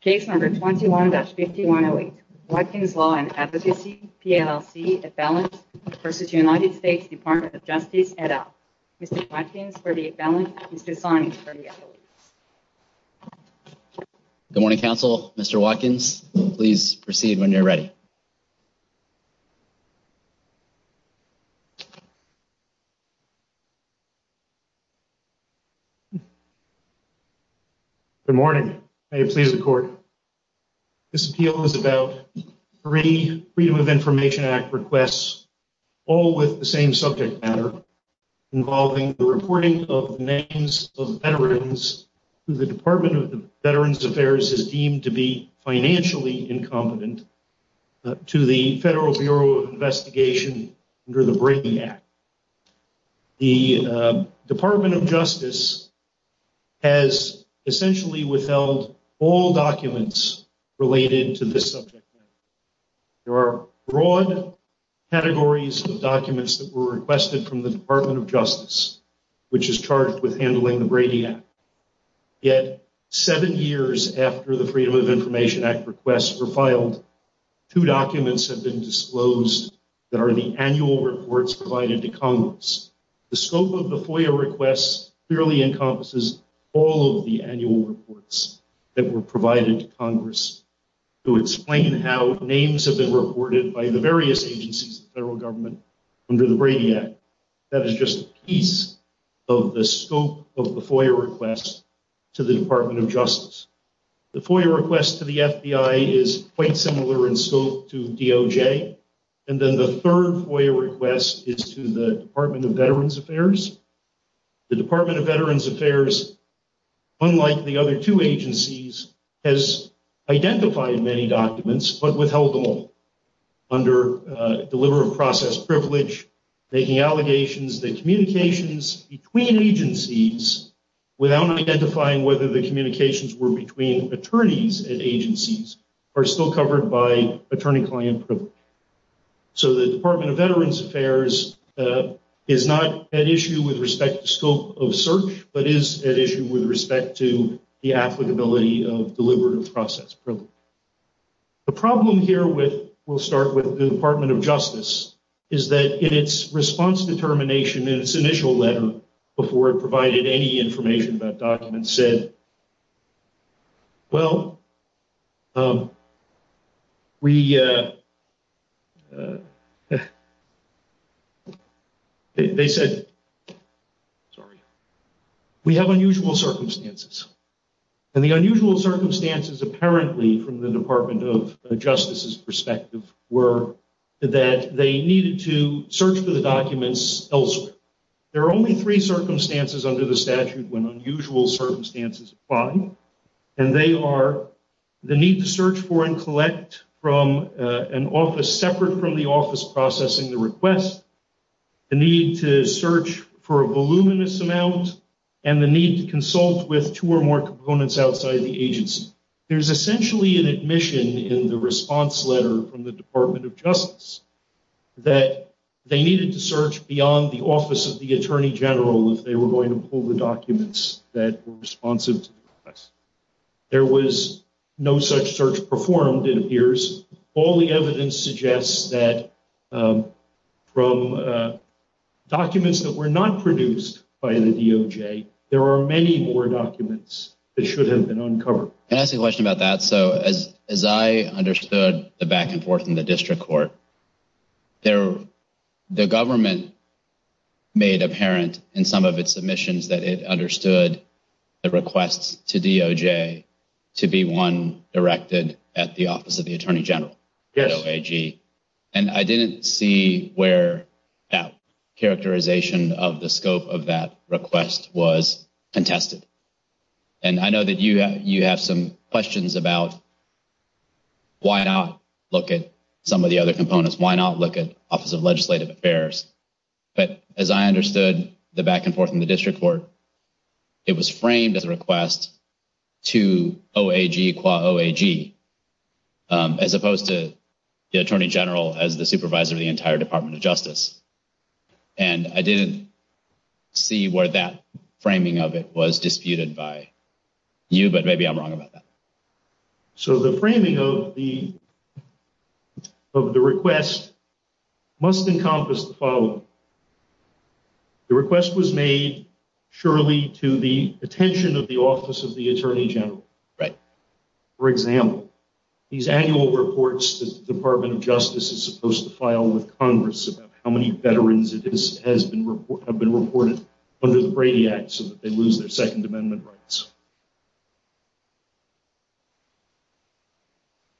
Case No. 21-5108, Watkins Law & Advocacy, PLLC, Appellant v. United States Department of Justice, et al. Mr. Watkins for the appellant, Mr. Sonny for the appellate. Good morning, counsel. Mr. Watkins, please proceed when you're ready. Good morning. May it please the court. This appeal is about three Freedom of Information Act requests, all with the same subject matter, involving the reporting of names of veterans who the Department of Veterans Affairs has deemed to be financially incompetent. To the Federal Bureau of Investigation under the Brady Act, the Department of Justice has essentially withheld all documents related to this subject matter. There are broad categories of documents that were requested from the Department of Justice, which is charged with handling the Brady Act. Yet, seven years after the Freedom of Information Act requests were filed, two documents have been disclosed that are the annual reports provided to Congress. The scope of the FOIA requests clearly encompasses all of the annual reports that were provided to Congress to explain how names have been reported by the various agencies of the federal government under the Brady Act. That is just a piece of the scope of the FOIA requests to the Department of Justice. The FOIA request to the FBI is quite similar in scope to DOJ. And then the third FOIA request is to the Department of Veterans Affairs. The Department of Veterans Affairs, unlike the other two agencies, has identified many documents but withheld them all under deliver of process privilege, making allegations that communications between agencies, without identifying whether the communications were between attorneys at agencies, are still covered by attorney-client privilege. So the Department of Veterans Affairs is not at issue with respect to scope of search, but is at issue with respect to the applicability of deliver of process privilege. The problem here with, we'll start with the Department of Justice, is that in its response determination in its initial letter, before it provided any information about documents, said, Well, we, they said, sorry, we have unusual circumstances. And the unusual circumstances apparently from the Department of Justice's perspective were that they needed to search for the documents elsewhere. There are only three circumstances under the statute when unusual circumstances apply. And they are the need to search for and collect from an office separate from the office processing the request, the need to search for a voluminous amount, and the need to consult with two or more components outside the agency. There's essentially an admission in the response letter from the Department of Justice that they needed to search beyond the office of the Attorney General if they were going to pull the documents that were responsive to the request. There was no such search performed, it appears. All the evidence suggests that from documents that were not produced by the DOJ, there are many more documents that should have been uncovered. Can I ask a question about that? So, as I understood the back and forth in the district court, the government made apparent in some of its submissions that it understood the requests to DOJ to be one directed at the office of the Attorney General. Yes. And I didn't see where that characterization of the scope of that request was contested. And I know that you have some questions about why not look at some of the other components, why not look at Office of Legislative Affairs. But as I understood the back and forth in the district court, it was framed as a request to OAG qua OAG, as opposed to the Attorney General as the supervisor of the entire Department of Justice. And I didn't see where that framing of it was disputed by you, but maybe I'm wrong about that. So the framing of the request must encompass the following. The request was made surely to the attention of the Office of the Attorney General. Right. For example, these annual reports that the Department of Justice is supposed to file with Congress about how many veterans have been reported under the Brady Act so that they lose their Second Amendment rights.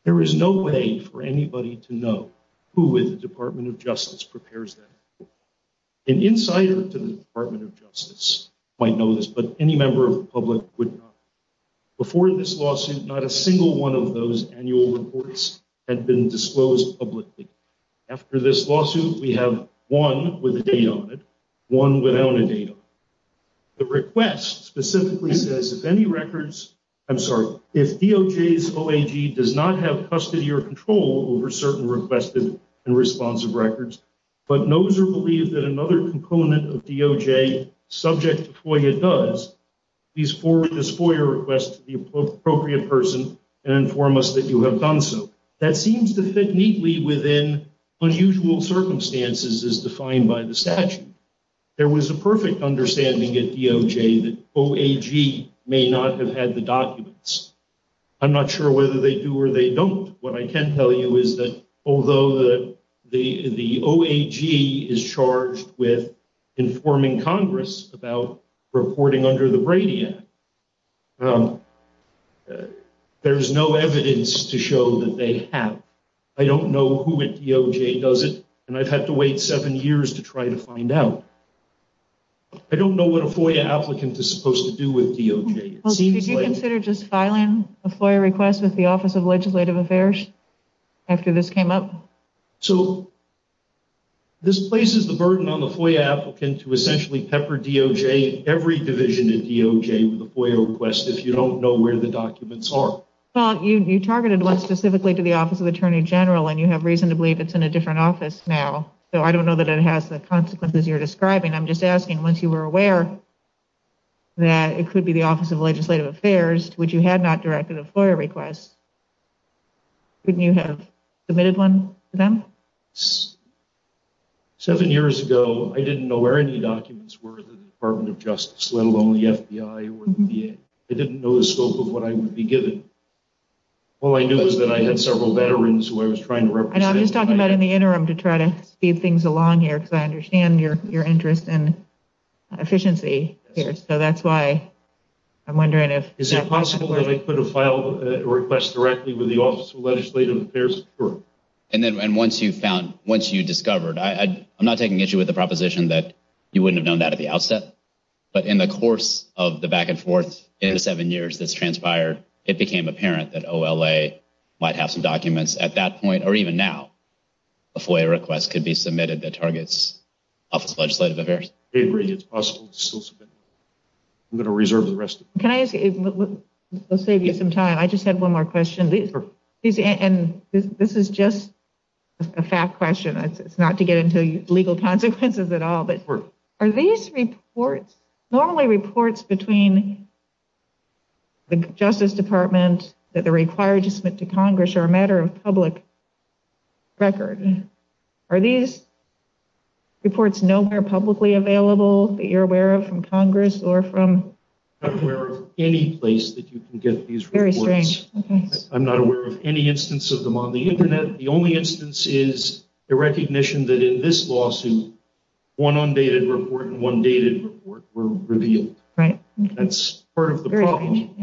There is no way for anybody to know who with the Department of Justice prepares them. An insider to the Department of Justice might know this, but any member of the public would not. Before this lawsuit, not a single one of those annual reports had been disclosed publicly. After this lawsuit, we have one with a date on it, one without a date on it. The request specifically says, if any records, I'm sorry, if DOJ's OAG does not have custody or control over certain requested and responsive records, but knows or believes that another component of DOJ subject to FOIA does, please forward this FOIA request to the appropriate person and inform us that you have done so. That seems to fit neatly within unusual circumstances as defined by the statute. There was a perfect understanding at DOJ that OAG may not have had the documents. I'm not sure whether they do or they don't. What I can tell you is that although the OAG is charged with informing Congress about reporting under the Brady Act, there is no evidence to show that they have. I don't know who at DOJ does it, and I've had to wait seven years to try to find out. I don't know what a FOIA applicant is supposed to do with DOJ. Did you consider just filing a FOIA request with the Office of Legislative Affairs after this came up? So this places the burden on the FOIA applicant to essentially pepper DOJ, every division at DOJ, with a FOIA request if you don't know where the documents are. Well, you targeted one specifically to the Office of Attorney General, and you have reason to believe it's in a different office now. So I don't know that it has the consequences you're describing. I'm just asking, once you were aware that it could be the Office of Legislative Affairs, which you had not directed a FOIA request, couldn't you have submitted one to them? Seven years ago, I didn't know where any documents were in the Department of Justice, let alone the FBI or the VA. I didn't know the scope of what I would be given. All I knew was that I had several veterans who I was trying to represent. I know. I'm just talking about in the interim to try to speed things along here, because I understand your interest in efficiency here. So that's why I'm wondering if… Is it possible that I could have filed a request directly with the Office of Legislative Affairs? And then once you found, once you discovered, I'm not taking issue with the proposition that you wouldn't have known that at the outset, but in the course of the back and forth in the seven years that's transpired, it became apparent that OLA might have some documents at that point, or even now, a FOIA request could be submitted that targets Office of Legislative Affairs. I agree it's possible to still submit. I'm going to reserve the rest of it. Can I ask, let's save you some time. I just have one more question. And this is just a fact question. It's not to get into legal consequences at all, but are these reports, normally reports between the Justice Department that are required to submit to Congress are a matter of public record. Are these reports nowhere publicly available that you're aware of from Congress or from… I'm aware of any place that you can get these reports. I'm not aware of any instance of them on the Internet. The only instance is the recognition that in this lawsuit, one undated report and one dated report were revealed. That's part of the problem.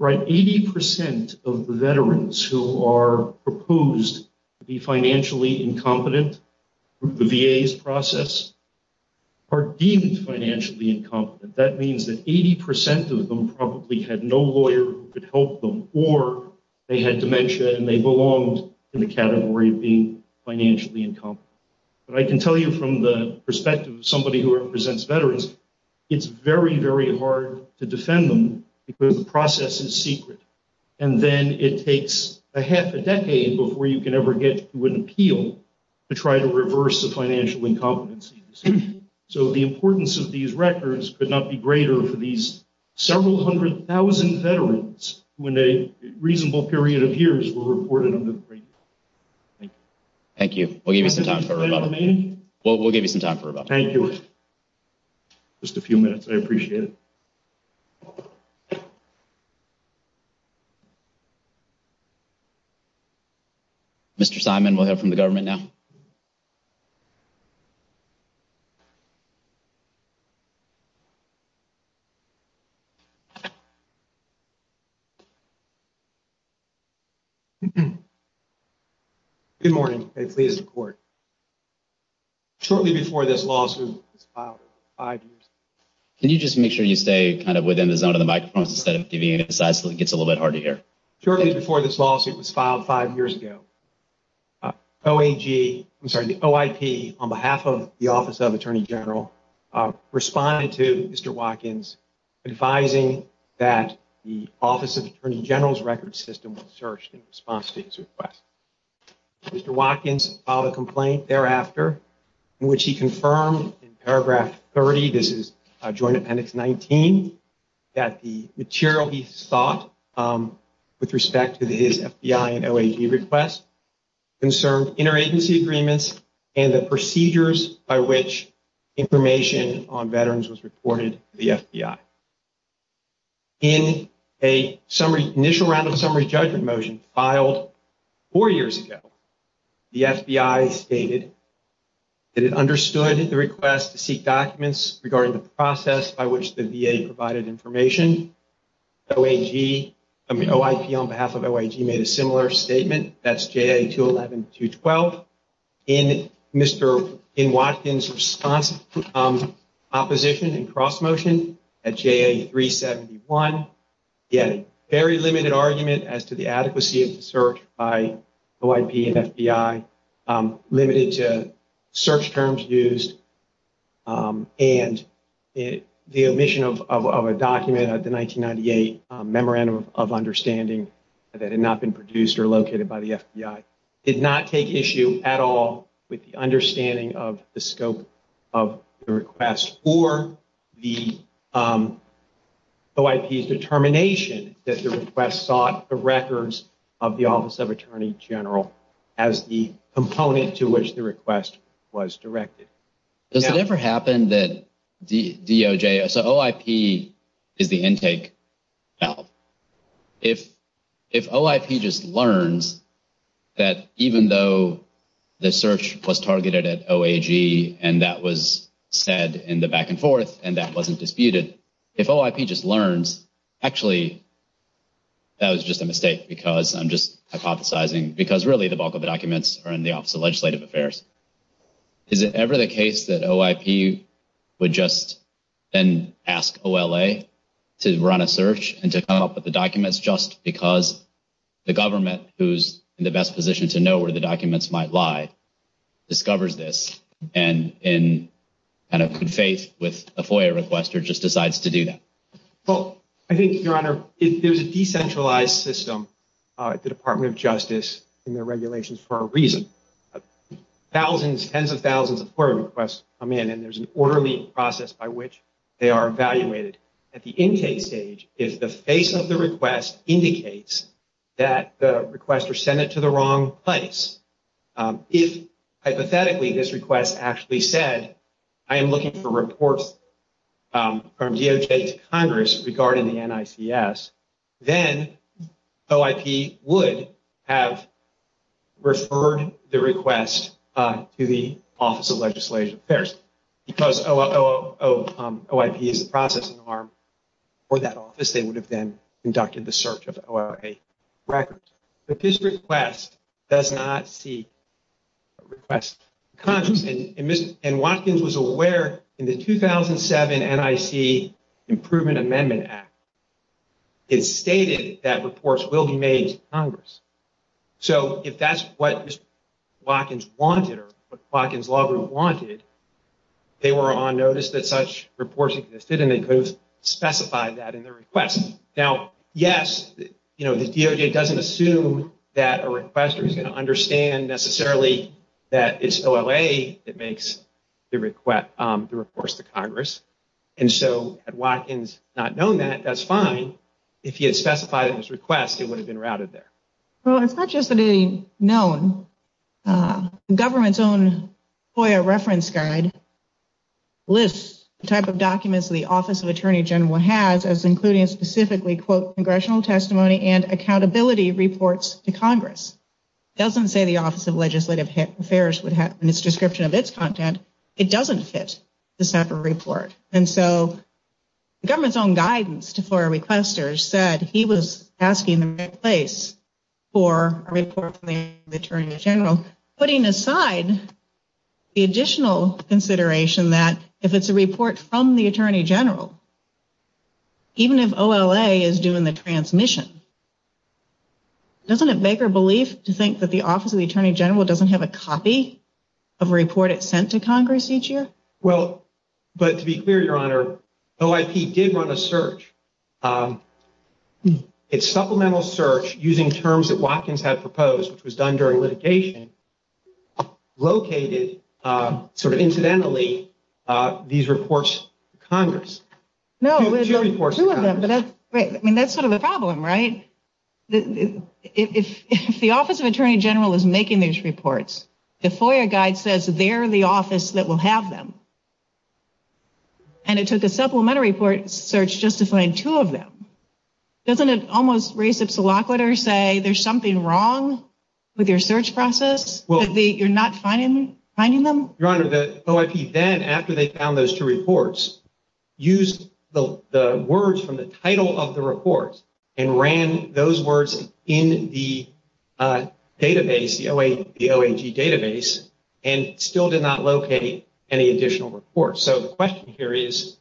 80% of the veterans who are proposed to be financially incompetent through the VA's process are deemed financially incompetent. That means that 80% of them probably had no lawyer who could help them, or they had dementia and they belonged in the category of being financially incompetent. But I can tell you from the perspective of somebody who represents veterans, it's very, very hard to defend them because the process is secret. And then it takes a half a decade before you can ever get to an appeal to try to reverse the financial incompetency. So the importance of these records could not be greater for these several hundred thousand veterans who in a reasonable period of years were reported under the great law. Thank you. We'll give you some time. We'll give you some time for rebuttal. Thank you. Just a few minutes. I appreciate it. Mr. Simon, we'll hear from the government now. Thank you. Good morning. Shortly before this lawsuit was filed five years ago. Can you just make sure you stay kind of within the zone of the microphone instead of deviating to the side so it gets a little bit harder to hear? Shortly before this lawsuit was filed five years ago, OAG, I'm sorry, the OIP, on behalf of the Office of Attorney General, responded to Mr. Watkins advising that the Office of Attorney General's record system was searched in response to his request. Mr. Watkins filed a complaint thereafter in which he confirmed in paragraph 30, this is Joint Appendix 19, that the material he sought with respect to his FBI and OAG request concerned interagency agreements and the procedures by which information on veterans was reported to the FBI. In an initial round of summary judgment motion filed four years ago, the FBI stated that it understood the request to seek documents regarding the process by which the VA provided information. OIG, I mean, OIP on behalf of OIG made a similar statement. That's JA-211-212. In Mr. Watkins' response to opposition and cross-motion at JA-371, he had a very limited argument as to the adequacy of the search by OIP and FBI, limited to search terms used, and the omission of a document, the 1998 Memorandum of Understanding that had not been produced or located by the FBI, did not take issue at all with the understanding of the scope of the request or the OIP's determination that the request sought the records of the Office of Attorney General as the component to which the request was directed. Does it ever happen that DOJ, so OIP is the intake valve. If OIP just learns that even though the search was targeted at OIG and that was said in the back and forth and that wasn't disputed, if OIP just learns, actually, that was just a mistake because I'm just hypothesizing, because really the bulk of the documents are in the Office of Legislative Affairs. Is it ever the case that OIP would just then ask OLA to run a search and to come up with the documents just because the government, who's in the best position to know where the documents might lie, discovers this and in good faith with a FOIA requester, just decides to do that? Well, I think, Your Honor, there's a decentralized system at the Department of Justice in their regulations for a reason. Thousands, tens of thousands of FOIA requests come in and there's an orderly process by which they are evaluated. At the intake stage, if the face of the request indicates that the requester sent it to the wrong place, if hypothetically this request actually said, I am looking for reports from DOJ to Congress regarding the NICS, then OIP would have referred the request to the Office of Legislative Affairs. Because OIP is the processing arm for that office, they would have then conducted the search of OLA records. But this request does not seek a request to Congress. And Ms. Watkins was aware in the 2007 NIC Improvement Amendment Act, it stated that reports will be made to Congress. So if that's what Ms. Watkins wanted or what Ms. Watkins wanted, they were on notice that such reports existed and they could have specified that in their request. Now, yes, the DOJ doesn't assume that a requester is going to understand necessarily that it's OLA that makes the reports to Congress. And so had Watkins not known that, that's fine. If he had specified in his request, it would have been routed there. Well, it's not just a known. The government's own FOIA reference guide lists the type of documents the Office of Attorney General has, as including specifically, quote, congressional testimony and accountability reports to Congress. It doesn't say the Office of Legislative Affairs would have in its description of its content. It doesn't fit the separate report. And so the government's own guidance to FOIA requesters said he was asking for a report from the Attorney General, putting aside the additional consideration that if it's a report from the Attorney General, even if OLA is doing the transmission, doesn't it make her believe to think that the Office of the Attorney General doesn't have a copy of a report it sent to Congress each year? Well, but to be clear, Your Honor, OIP did run a search. It's supplemental search using terms that Watkins had proposed, which was done during litigation, located sort of incidentally these reports to Congress. No, two of them, but that's great. I mean, that's sort of a problem, right? If the Office of Attorney General is making these reports, the FOIA guide says they're the office that will have them. And it took a supplementary report search just to find two of them. Doesn't it almost raise obsolete or say there's something wrong with your search process? You're not finding them? Your Honor, the OIP then, after they found those two reports, used the words from the title of the report and ran those words in the database, the OAG database, and still did not locate any additional reports. So the question here is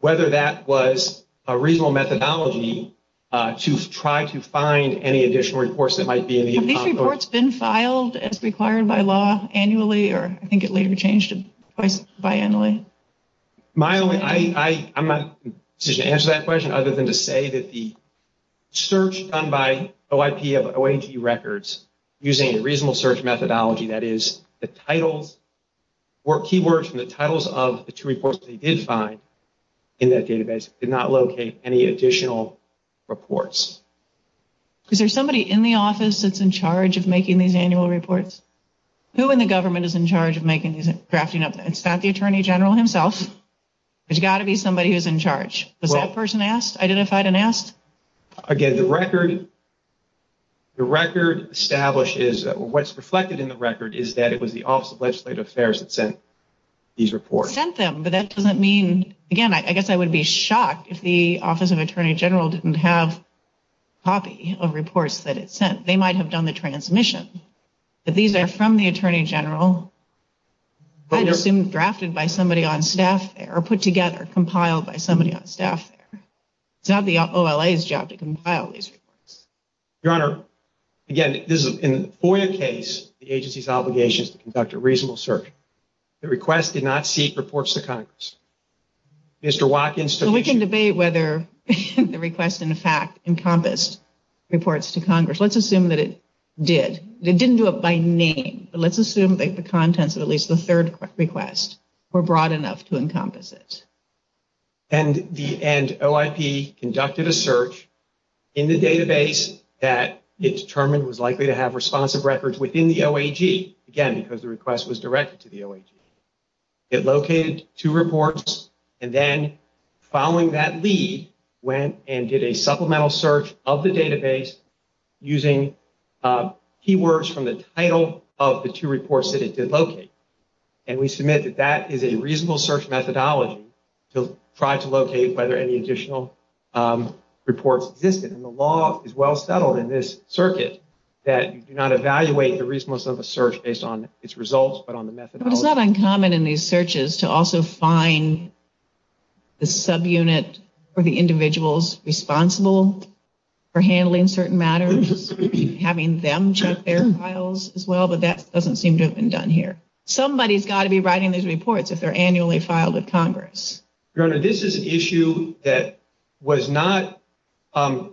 whether that was a reasonable methodology to try to find any additional reports that might be in the economy. Have these reports been filed as required by law annually, or I think it later changed twice biannually? I'm not in a position to answer that question, other than to say that the search done by OIP of OAG records using a reasonable search methodology, that is, the titles or keywords from the titles of the two reports they did find in that database, did not locate any additional reports. Is there somebody in the office that's in charge of making these annual reports? Who in the government is in charge of making these and drafting them? It's not the Attorney General himself. There's got to be somebody who's in charge. Was that person asked, identified and asked? Again, the record establishes, what's reflected in the record, is that it was the Office of Legislative Affairs that sent these reports. Sent them, but that doesn't mean, again, I guess I would be shocked if the Office of Attorney General didn't have a copy of reports that it sent. They might have done the transmission. But these are from the Attorney General. I'd assume drafted by somebody on staff there, or put together, compiled by somebody on staff there. It's not the OLA's job to compile these reports. Your Honor, again, this is a FOIA case. The agency's obligation is to conduct a reasonable search. The request did not seek reports to Congress. Mr. Watkins took the issue. So we can debate whether the request, in fact, encompassed reports to Congress. Let's assume that it did. It didn't do it by name. But let's assume that the contents of at least the third request were broad enough to encompass it. And OIP conducted a search in the database that it determined was likely to have responsive records within the OAG. Again, because the request was directed to the OAG. It located two reports, and then following that lead, went and did a supplemental search of the database using keywords from the title of the two reports that it did locate. And we submit that that is a reasonable search methodology to try to locate whether any additional reports existed. And the law is well settled in this circuit that you do not evaluate the reasonableness of a search based on its results, but on the methodology. It's not uncommon in these searches to also find the subunit or the individuals responsible for handling certain matters, having them check their files as well, but that doesn't seem to have been done here. Somebody's got to be writing these reports if they're annually filed with Congress. Your Honor, this is an issue that was not, to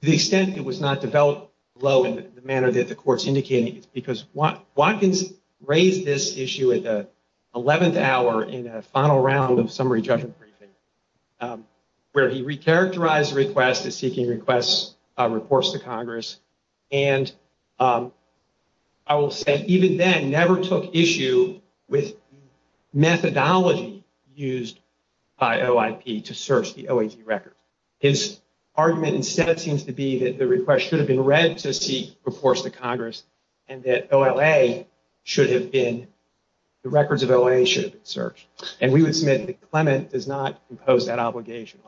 the extent it was not developed low in the manner that the court's indicating, it's because Watkins raised this issue at the 11th hour in a final round of summary judgment briefing, where he re-characterized the request as seeking reports to Congress. And I will say, even then, never took issue with methodology used by OIP to search the OAG records. His argument instead seems to be that the request should have been read to seek reports to Congress, and that OLA should have been, the records of OLA should have been searched. And we would submit that Clement does not impose that obligation.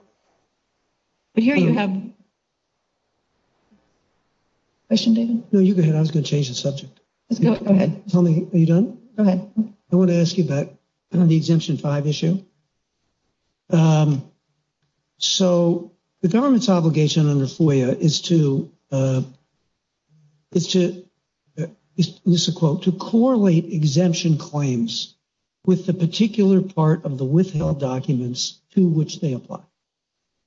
But here you have... Question, David? No, you go ahead. I was going to change the subject. Go ahead. Are you done? Go ahead. I want to ask you about the Exemption 5 issue. So the government's obligation under FOIA is to, is to, this is a quote, to correlate exemption claims with the particular part of the withheld documents to which they apply.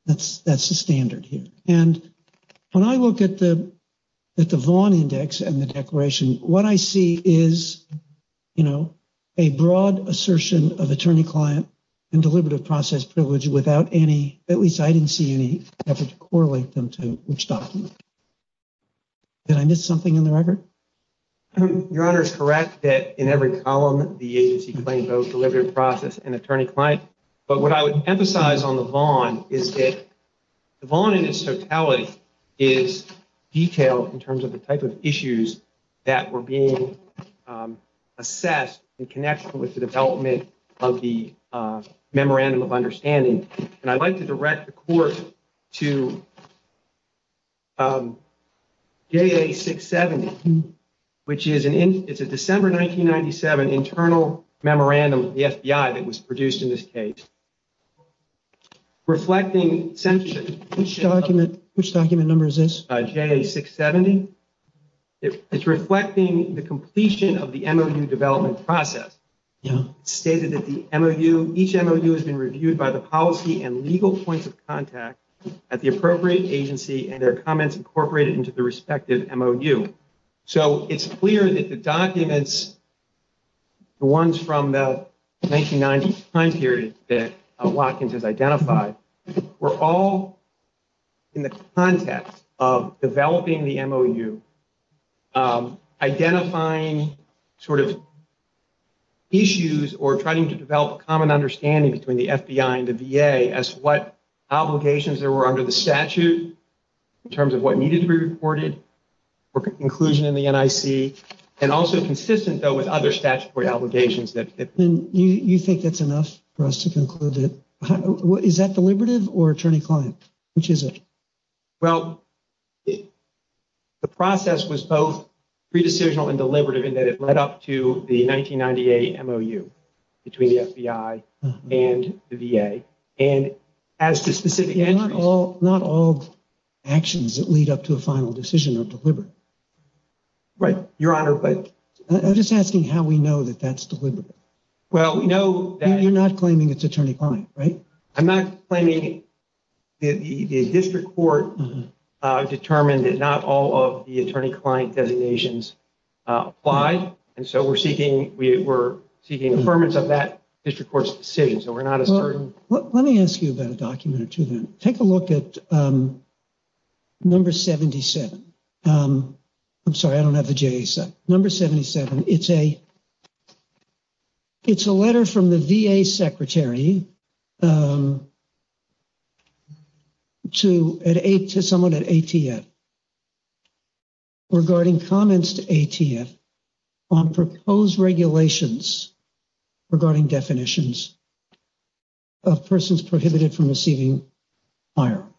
That's the standard here. And when I look at the Vaughn Index and the declaration, what I see is, you know, a broad assertion of attorney-client and deliberative process privilege without any, at least I didn't see any effort to correlate them to which document. Did I miss something in the record? Your Honor is correct that in every column, the agency claimed both deliberative process and attorney-client. But what I would emphasize on the Vaughn is that the Vaughn in its totality is detailed in terms of the type of issues that were being assessed in connection with the development of the Memorandum of Understanding. And I'd like to direct the Court to JA-670, which is an, it's a December 1997 internal memorandum of the FBI that was produced in this case. Reflecting censorship... Which document, which document number is this? JA-670. It's reflecting the completion of the MOU development process. It stated that the MOU, each MOU has been reviewed by the policy and legal points of contact at the appropriate agency and their comments incorporated into the respective MOU. So it's clear that the documents, the ones from the 1990 time period that Watkins has identified, were all in the context of developing the MOU, identifying sort of issues or trying to develop a common understanding between the FBI and the VA as to what obligations there were under the statute in terms of what needed to be reported for inclusion in the NIC, and also consistent though with other statutory obligations that... And you think that's enough for us to conclude it? Is that deliberative or attorney-client? Which is it? Well, the process was both pre-decisional and deliberative in that it led up to the 1998 MOU between the FBI and the VA, and as to specific entries... Not all actions that lead up to a final decision are deliberate. Right, Your Honor, but... I'm just asking how we know that that's deliberate. Well, we know that... You're not claiming it's attorney-client, right? I'm not claiming... The district court determined that not all of the attorney-client designations apply, and so we're seeking affirmance of that district court's decision, so we're not as certain. Let me ask you about a document or two then. Take a look at number 77. I'm sorry, I don't have the JASA. Number 77, it's a letter from the VA secretary to someone at ATF regarding comments to ATF on proposed regulations regarding definitions of persons prohibited from receiving firearms.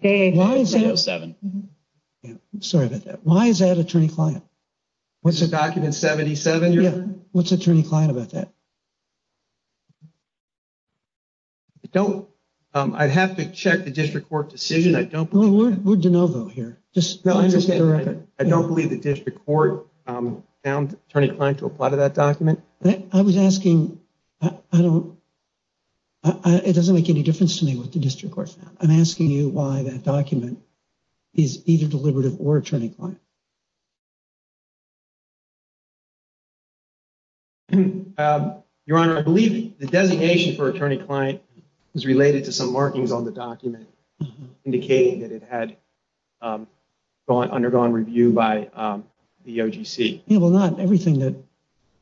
Why is that? Sorry about that. Why is that attorney-client? This is document 77, Your Honor? Yeah, what's attorney-client about that? I don't... I'd have to check the district court decision. We're de novo here. I don't believe the district court found attorney-client to apply to that document. I was asking... I don't... It doesn't make any difference to me what the district court found. I'm asking you why that document is either deliberative or attorney-client. Your Honor, I believe the designation for attorney-client is related to some markings on the document indicating that it had undergone review by the OGC. Yeah, well, not everything that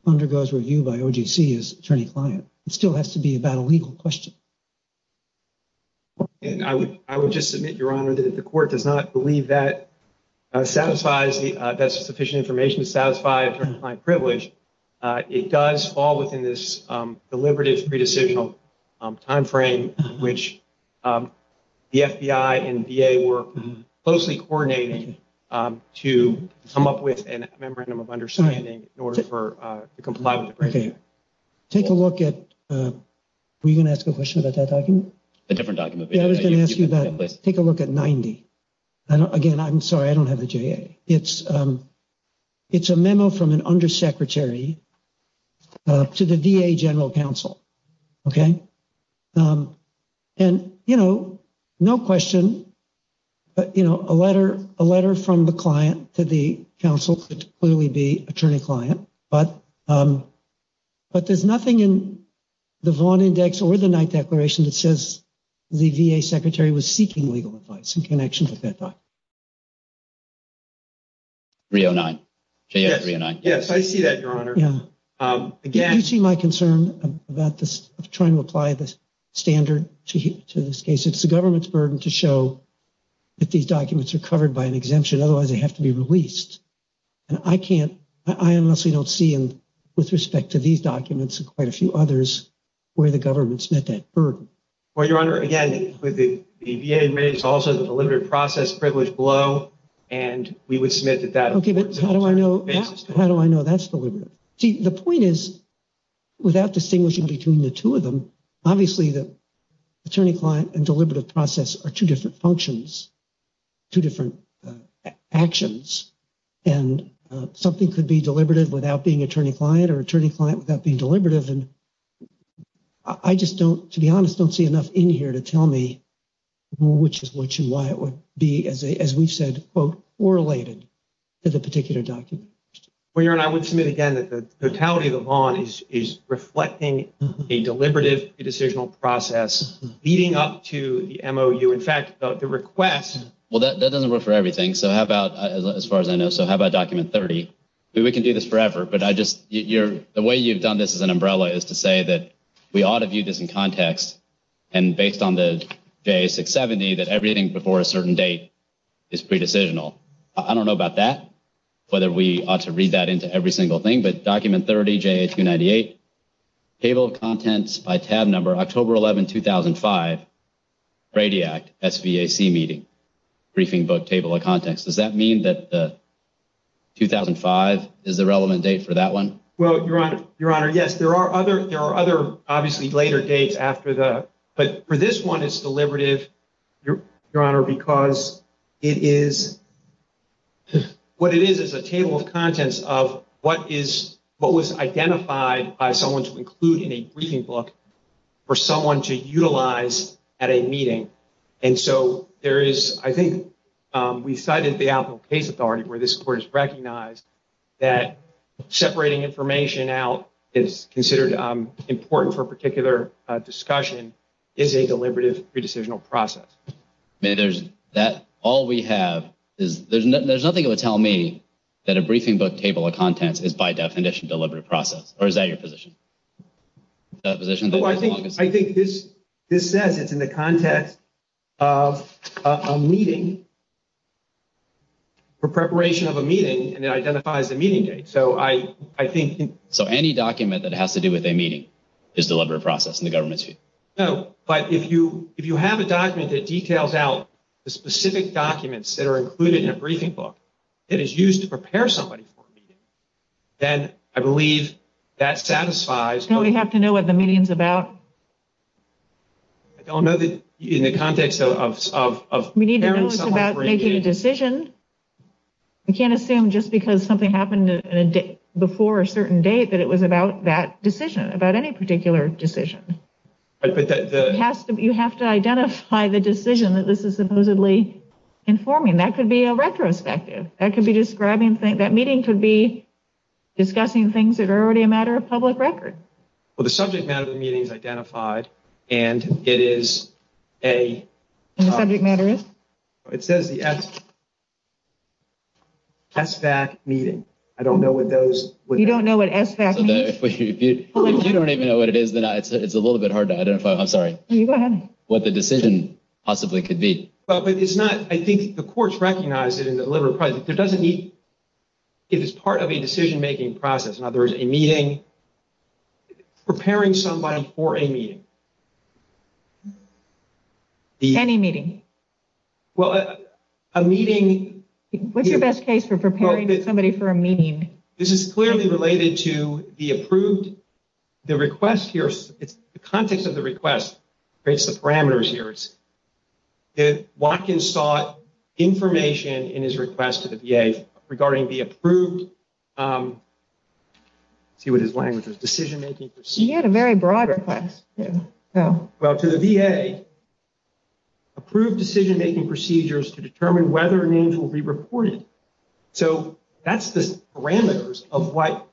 undergoes review by OGC is attorney-client. It still has to be about a legal question. And I would just submit, Your Honor, that if the court does not believe that satisfies the... that's sufficient information to satisfy attorney-client privilege, it does fall within this deliberative, pre-decisional time frame which the FBI and VA were closely coordinating to come up with a Memorandum of Understanding in order for the compliance of the procedure. Okay. Take a look at... Did you ask me about that document? A different document. Yeah, I was going to ask you about it. Take a look at 90. Again, I'm sorry, I don't have the JA. It's a memo from an undersecretary to the VA General Counsel. Okay? And, you know, no question, you know, a letter from the client to the counsel could clearly be attorney-client. But there's nothing in the Vaughn Index or the Knight Declaration that says the VA secretary was seeking legal advice in connection with that document. 309. Yes, I see that, Your Honor. Yeah. Again... Do you see my concern about this, of trying to apply the standard to this case? It's the government's burden to show that these documents are covered by an exemption, otherwise they have to be released. And I can't... I honestly don't see, with respect to these documents and quite a few others, where the government's met that burden. Well, Your Honor, again, the VA made it also the deliberative process privilege below, and we would submit that that... Okay, but how do I know... How do I know that's deliberative? See, the point is, without distinguishing between the two of them, obviously the attorney-client and deliberative process are two different functions, two different actions. And something could be deliberative without being attorney-client or attorney-client without being deliberative. And I just don't, to be honest, don't see enough in here to tell me which is which and why it would be, as we've said, quote, correlated to the particular document. Well, Your Honor, I would submit again that the totality of the law is reflecting a deliberative pre-decisional process leading up to the MOU. In fact, the request... Well, that doesn't work for everything. So how about, as far as I know, so how about Document 30? We can do this forever, but I just... The way you've done this as an umbrella is to say that we ought to view this in context and based on the JA670 that everything before a certain date is pre-decisional. I don't know about that, whether we ought to read that into every single thing, but Document 30, JA298, Table of Contents by Tab Number, October 11, 2005, RADIAC SVAC Meeting, Briefing Book, Table of Contents. Does that mean that 2005 is the relevant date for that one? Well, Your Honor, yes. There are other, obviously, later dates after the... But for this one, it's deliberative, Your Honor, because it is... What it is is a Table of Contents of what was identified by someone to include in a briefing book for someone to utilize at a meeting. And so there is, I think, we cited the Outlook Case Authority where this Court has recognized that separating information out is considered important for a particular discussion is a deliberative pre-decisional process. I mean, there's that... All we have is... There's nothing that would tell me that a briefing book Table of Contents is by definition a deliberative process, or is that your position? Is that your position? I think this says it's in the context of a meeting, for preparation of a meeting, and it identifies the meeting date. So I think... So any document that has to do with a meeting is a deliberative process in the government's view? No, but if you have a document that details out the specific documents that are included in a briefing book that is used to prepare somebody for a meeting, then I believe that satisfies the purpose of a meeting. So we have to know what the meeting's about? I don't know that in the context of... We need to know it's about making a decision. We can't assume just because something happened before a certain date that it was about that decision, about any particular decision. You have to identify the decision that this is supposedly informing. That could be a retrospective. That meeting could be discussing things that are already a matter of public record. Well, the subject matter of the meeting is identified, and it is a... And the subject matter is? It says the SVAC meeting. I don't know what those... You don't know what SVAC means? If you don't even know what it is, then it's a little bit hard to identify. I'm sorry. You go ahead. What the decision possibly could be. But it's not... I think the courts recognize it in the deliberative process. There doesn't need... Preparing somebody for a meeting. Any meeting. Well, a meeting... What's your best case for preparing somebody for a meeting? This is clearly related to the approved... The request here... The context of the request creates the parameters here. Watkins sought information in his request to the VA regarding the approved... Let's see what his language was. Decision-making procedures. He had a very broad request. Well, to the VA, approved decision-making procedures to determine whether a name will be reported. So that's the parameters of what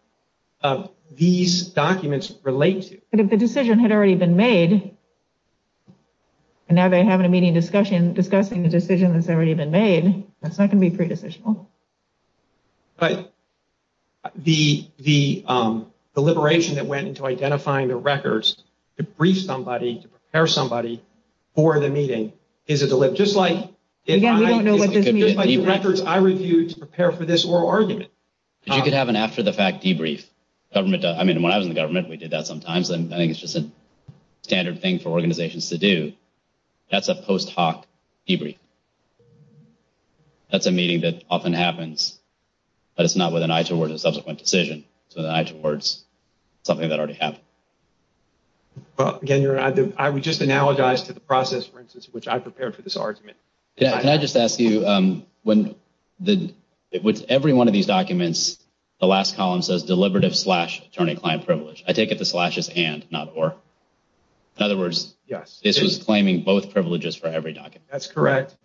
these documents relate to. But if the decision had already been made, and now they're having a meeting discussing the decision that's already been made, that's not going to be pre-decisional. Right. The deliberation that went into identifying the records to brief somebody, to prepare somebody for the meeting, is a deliberate... Again, we don't know what this means. I reviewed to prepare for this oral argument. You could have an after-the-fact debrief. I mean, when I was in government, we did that sometimes. I think it's just a standard thing for organizations to do. That's a post-hoc debrief. That's a meeting that often happens, but it's not with an eye towards a subsequent decision. It's with an eye towards something that already happened. Again, I would just analogize to the process, for instance, which I prepared for this argument. Can I just ask you, with every one of these documents, the last column says deliberative slash attorney-client privilege. I take it the slash is and, not or. In other words, this was claiming both privileges for every document. That's correct.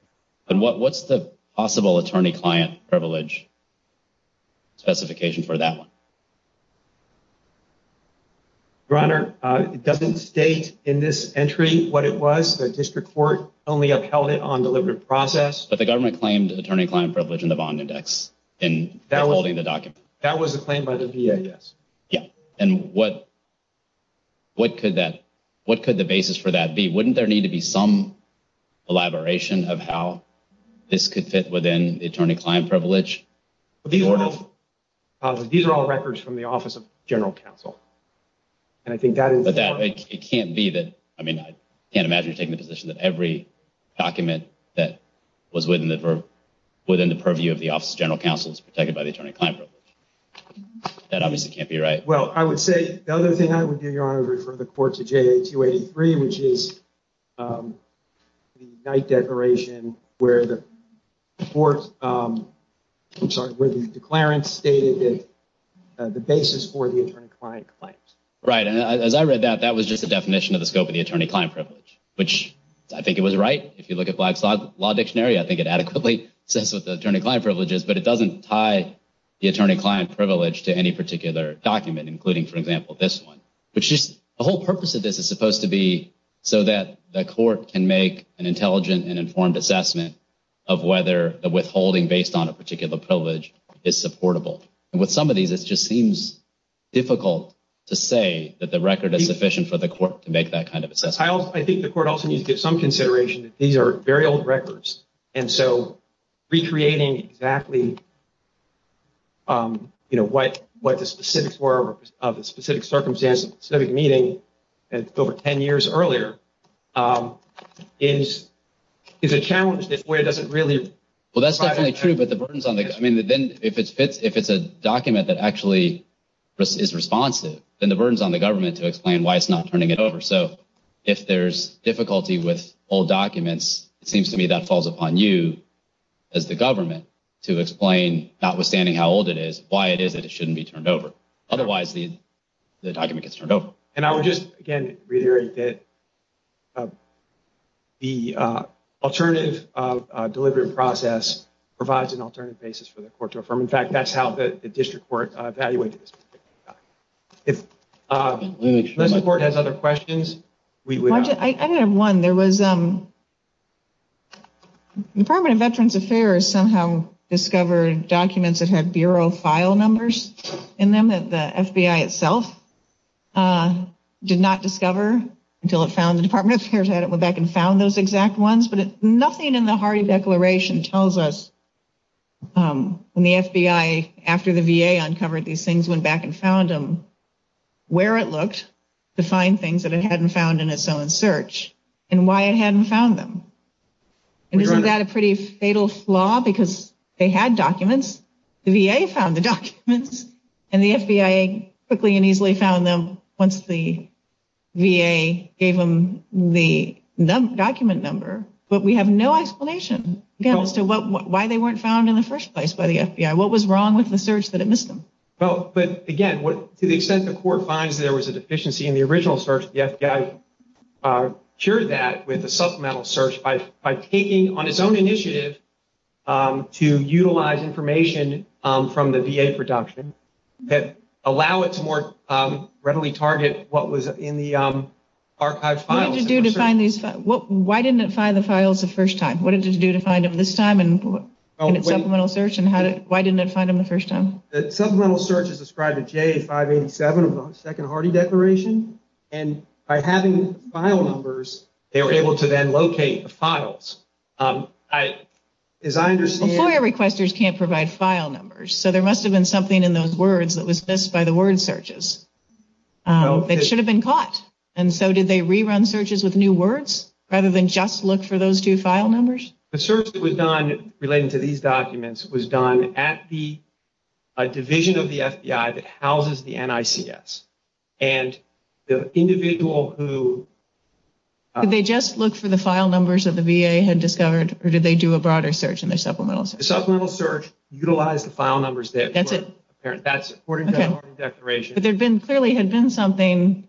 What's the possible attorney-client privilege specification for that one? Your Honor, it doesn't state in this entry what it was. The district court only upheld it on deliberate process. But the government claimed attorney-client privilege in the bond index in holding the document. That was a claim by the VA, yes. What could the basis for that be? Wouldn't there need to be some elaboration of how this could fit within the attorney-client privilege? These are all records from the Office of General Counsel. I can't imagine you're taking the position that every document that was within the purview of the Office of General Counsel is protected by the attorney-client privilege. That obviously can't be right. Well, I would say the other thing I would do, Your Honor, is I would refer the court to JA-283, which is the night declaration where the court, I'm sorry, where the declarant stated the basis for the attorney-client claims. Right. And as I read that, that was just a definition of the scope of the attorney-client privilege, which I think it was right. If you look at Black's Law Dictionary, I think it adequately says what the attorney-client privilege is, but it doesn't tie into the scope of the claim. The whole purpose of this is supposed to be so that the court can make an intelligent and informed assessment of whether the withholding based on a particular privilege is supportable. And with some of these, it just seems difficult to say that the record is sufficient for the court to make that kind of assessment. I think the court also needs to give some consideration that these are very old records, and so recreating exactly what the specifics were of the specific circumstance of the specific meeting over 10 years earlier is a challenge that FOIA doesn't really provide. Well, that's definitely true, but if it's a document that actually is responsive, then the burden is on the government to explain why it's not turning it over. So if there's difficulty with old documents, it seems to me that falls upon you as the government to explain, notwithstanding how old it is, why it is that it shouldn't be turned over. Otherwise, the document gets turned over. And I would just, again, reiterate that the alternative delivery process provides an alternative basis for the court to affirm. In fact, that's how the district court evaluated this particular document. Unless the court has other questions, we would not... Well, I did have one. There was... The Department of Veterans Affairs somehow discovered documents that had Bureau file numbers in them that the FBI itself did not discover until it found... The Department of Veterans Affairs hadn't went back and found those exact ones, but nothing in the Hardy Declaration tells us when the FBI, after the VA uncovered these things, went back and found them, where it looked to find things in the search and why it hadn't found them. Isn't that a pretty fatal flaw? Because they had documents, the VA found the documents, and the FBI quickly and easily found them once the VA gave them the document number. But we have no explanation as to why they weren't found in the first place by the FBI. What was wrong with the search that it missed them? Well, but again, to the extent the court finds there was a deficiency in the original search, the FBI cured that with a supplemental search by taking on its own initiative to utilize information from the VA production that allow it to more readily target what was in the archived files. What did it do to find these... Why didn't it find the files the first time? What did it do to find them this time in its supplemental search to the VA 587 of the Second Hardy Declaration? And by having file numbers, they were able to then locate the files. As I understand... Well, FOIA requesters can't provide file numbers, so there must have been something in those words that was missed by the word searches that should have been caught. And so did they re-run searches with new words rather than just look into the NICS? And the individual who... Did they just look for the file numbers that the VA had discovered, or did they do a broader search in their supplemental search? The supplemental search utilized the file numbers that were apparent. That's according to the Hardy Declaration. But there clearly had been something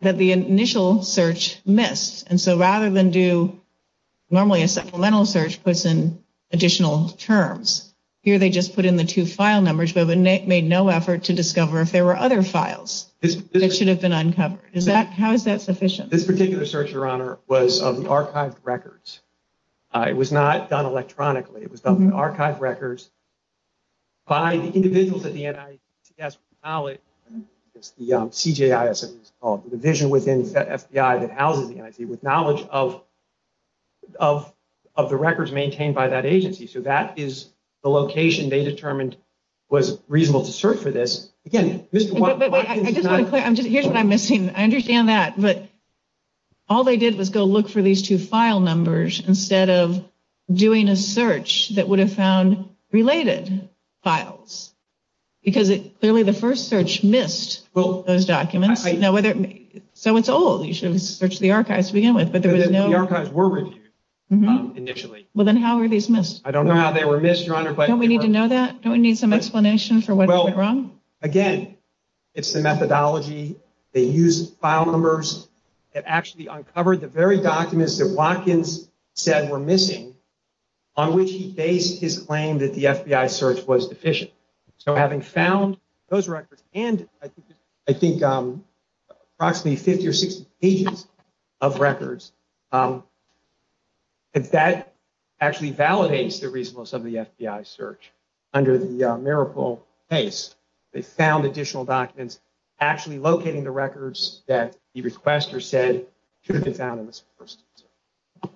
that the initial search missed. And so rather than do... Normally a supplemental search puts in additional terms. Here they just put in the two file numbers which made no effort to discover if there were other files that should have been uncovered. How is that sufficient? This particular search, Your Honor, was of the archived records. It was not done electronically. It was done with archived records by the individuals at the NICS with knowledge. It's the CJIS, as it was called. The division within the FBI that houses the NICS with knowledge of the records maintained by that agency. So that is the location they determined was reasonable to search for this. Again, Mr. Watkins... Here's what I'm missing. I understand that. All they did was go look for these two file numbers instead of doing a search that would have found related files. Because clearly the first search missed those documents. So it's old. You should have searched But the archives were reviewed initially. Well then how are these missed? I don't know how they were missed, Your Honor. Don't we need to know that? Don't we need some explanation for what went wrong? Again, it's the methodology. They used file numbers that actually uncovered the very documents that Watkins said were missing on which he based his claim that the FBI search was deficient. So having found those records and I think approximately 50 or 60 pages of records, that actually validates the reasonableness of the FBI search. Under the Miracle case, they found additional documents actually locating the records that the requester said should have been found in this first search.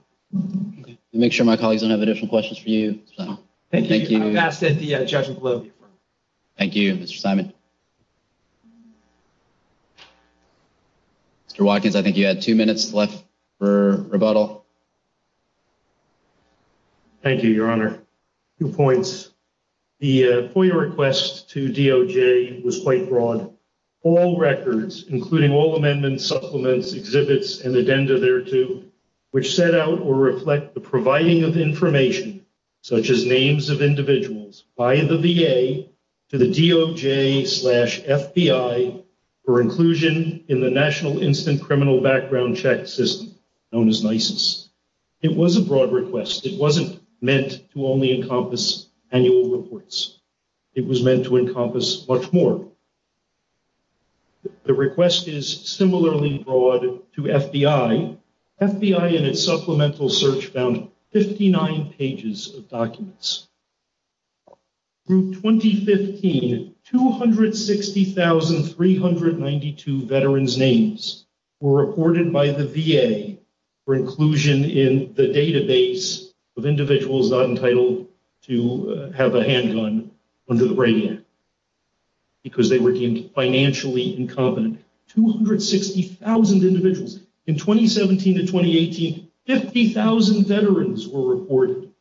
I'll make sure my colleagues don't have additional questions for you, Mr. Simon. Thank you. Thank you, Mr. Simon. Mr. Watkins, I think you had two minutes left for rebuttal. Thank you, Your Honor. Two points. The FOIA request to DOJ was quite broad. All records, including all amendments, supplements, exhibits, and addenda thereto which set out or reflect the providing of information such as names of individuals by the VA to the DOJ slash FBI for inclusion in the National Instant Criminal Background Check System known as NISIS. It was a broad request. It wasn't meant to only encompass annual reports. It was meant to encompass much more. The request is similarly broad to FBI. FBI in its supplemental search found 59 pages of documents. Through 2015, 260,392 veterans' names were reported by the VA for inclusion in the database of individuals not entitled to have a handgun under the right hand because they were deemed financially incompetent. 260,000 individuals. In 2017 to 2018, 50,000 veterans were reported.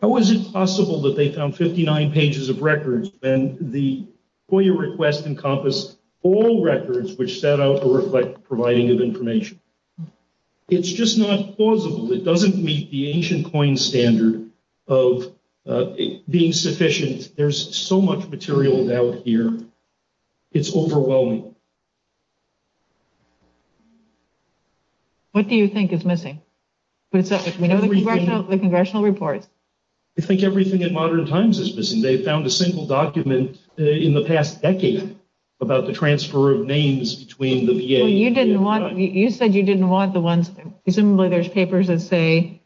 How is it possible that they found 59 pages of records when the FOIA request encompassed all records which set out or reflect providing of information? It's just not plausible. It doesn't meet the ancient coin standard of being sufficient. There's so much material out here. It's overwhelming. What do you think is missing? We know the congressional reports. I think everything in Modern Times is missing. They found a single document in the past decade about the transfer of names between the VA and the FBI. You said you didn't want the ones presumably there's papers that say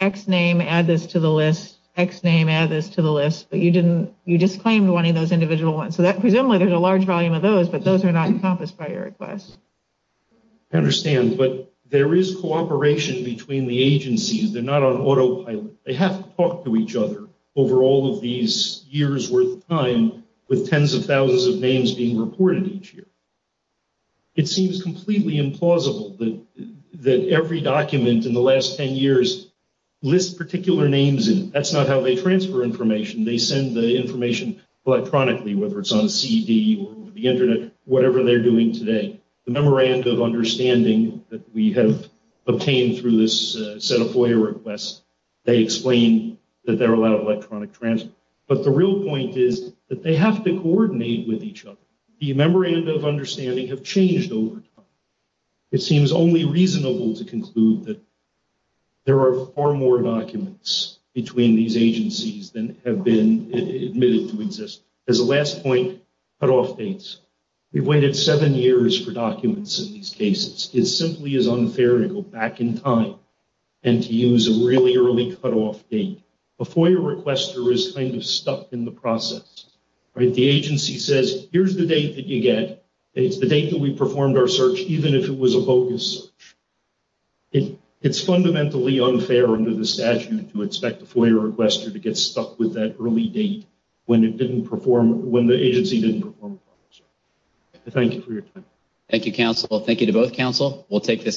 X name add this to the list X name add this to the list but you didn't you just claimed one of those individual ones. Presumably there's a large volume of those but those are not encompassed by your request. I understand but there is cooperation between the agencies. They're not on autopilot. They have to talk to each other over all of these years worth of time with tens of thousands of names being reported each year. It seems completely implausible that every document in the last 10 years lists particular names in it. That's not how they transfer information. They send the information electronically whether it's on a CD or the internet whatever they're doing today. The memorandum of understanding that we have obtained through this set of FOIA requests they explain that there are a lot of electronic transfers but the real point is that they have to coordinate with each other. The memorandum of understanding has changed over time. It seems only reasonable to conclude that there are far more documents between these agencies than have been admitted to exist. As a last point cut-off dates. We've waited seven years for documents in these cases. It simply is unfair to go back in time and to use a really early cut-off date. A FOIA requester is kind of stuck in the process. The agency says here's the date that you get and it's the date that we performed our search even if it was a bogus search. It's fundamentally unfair under the statute to expect a FOIA requester to get stuck with that early date when it didn't perform, when the agency didn't perform a FOIA search. Thank you for your time. Thank you, counsel. Thank you to both counsel. We'll take this case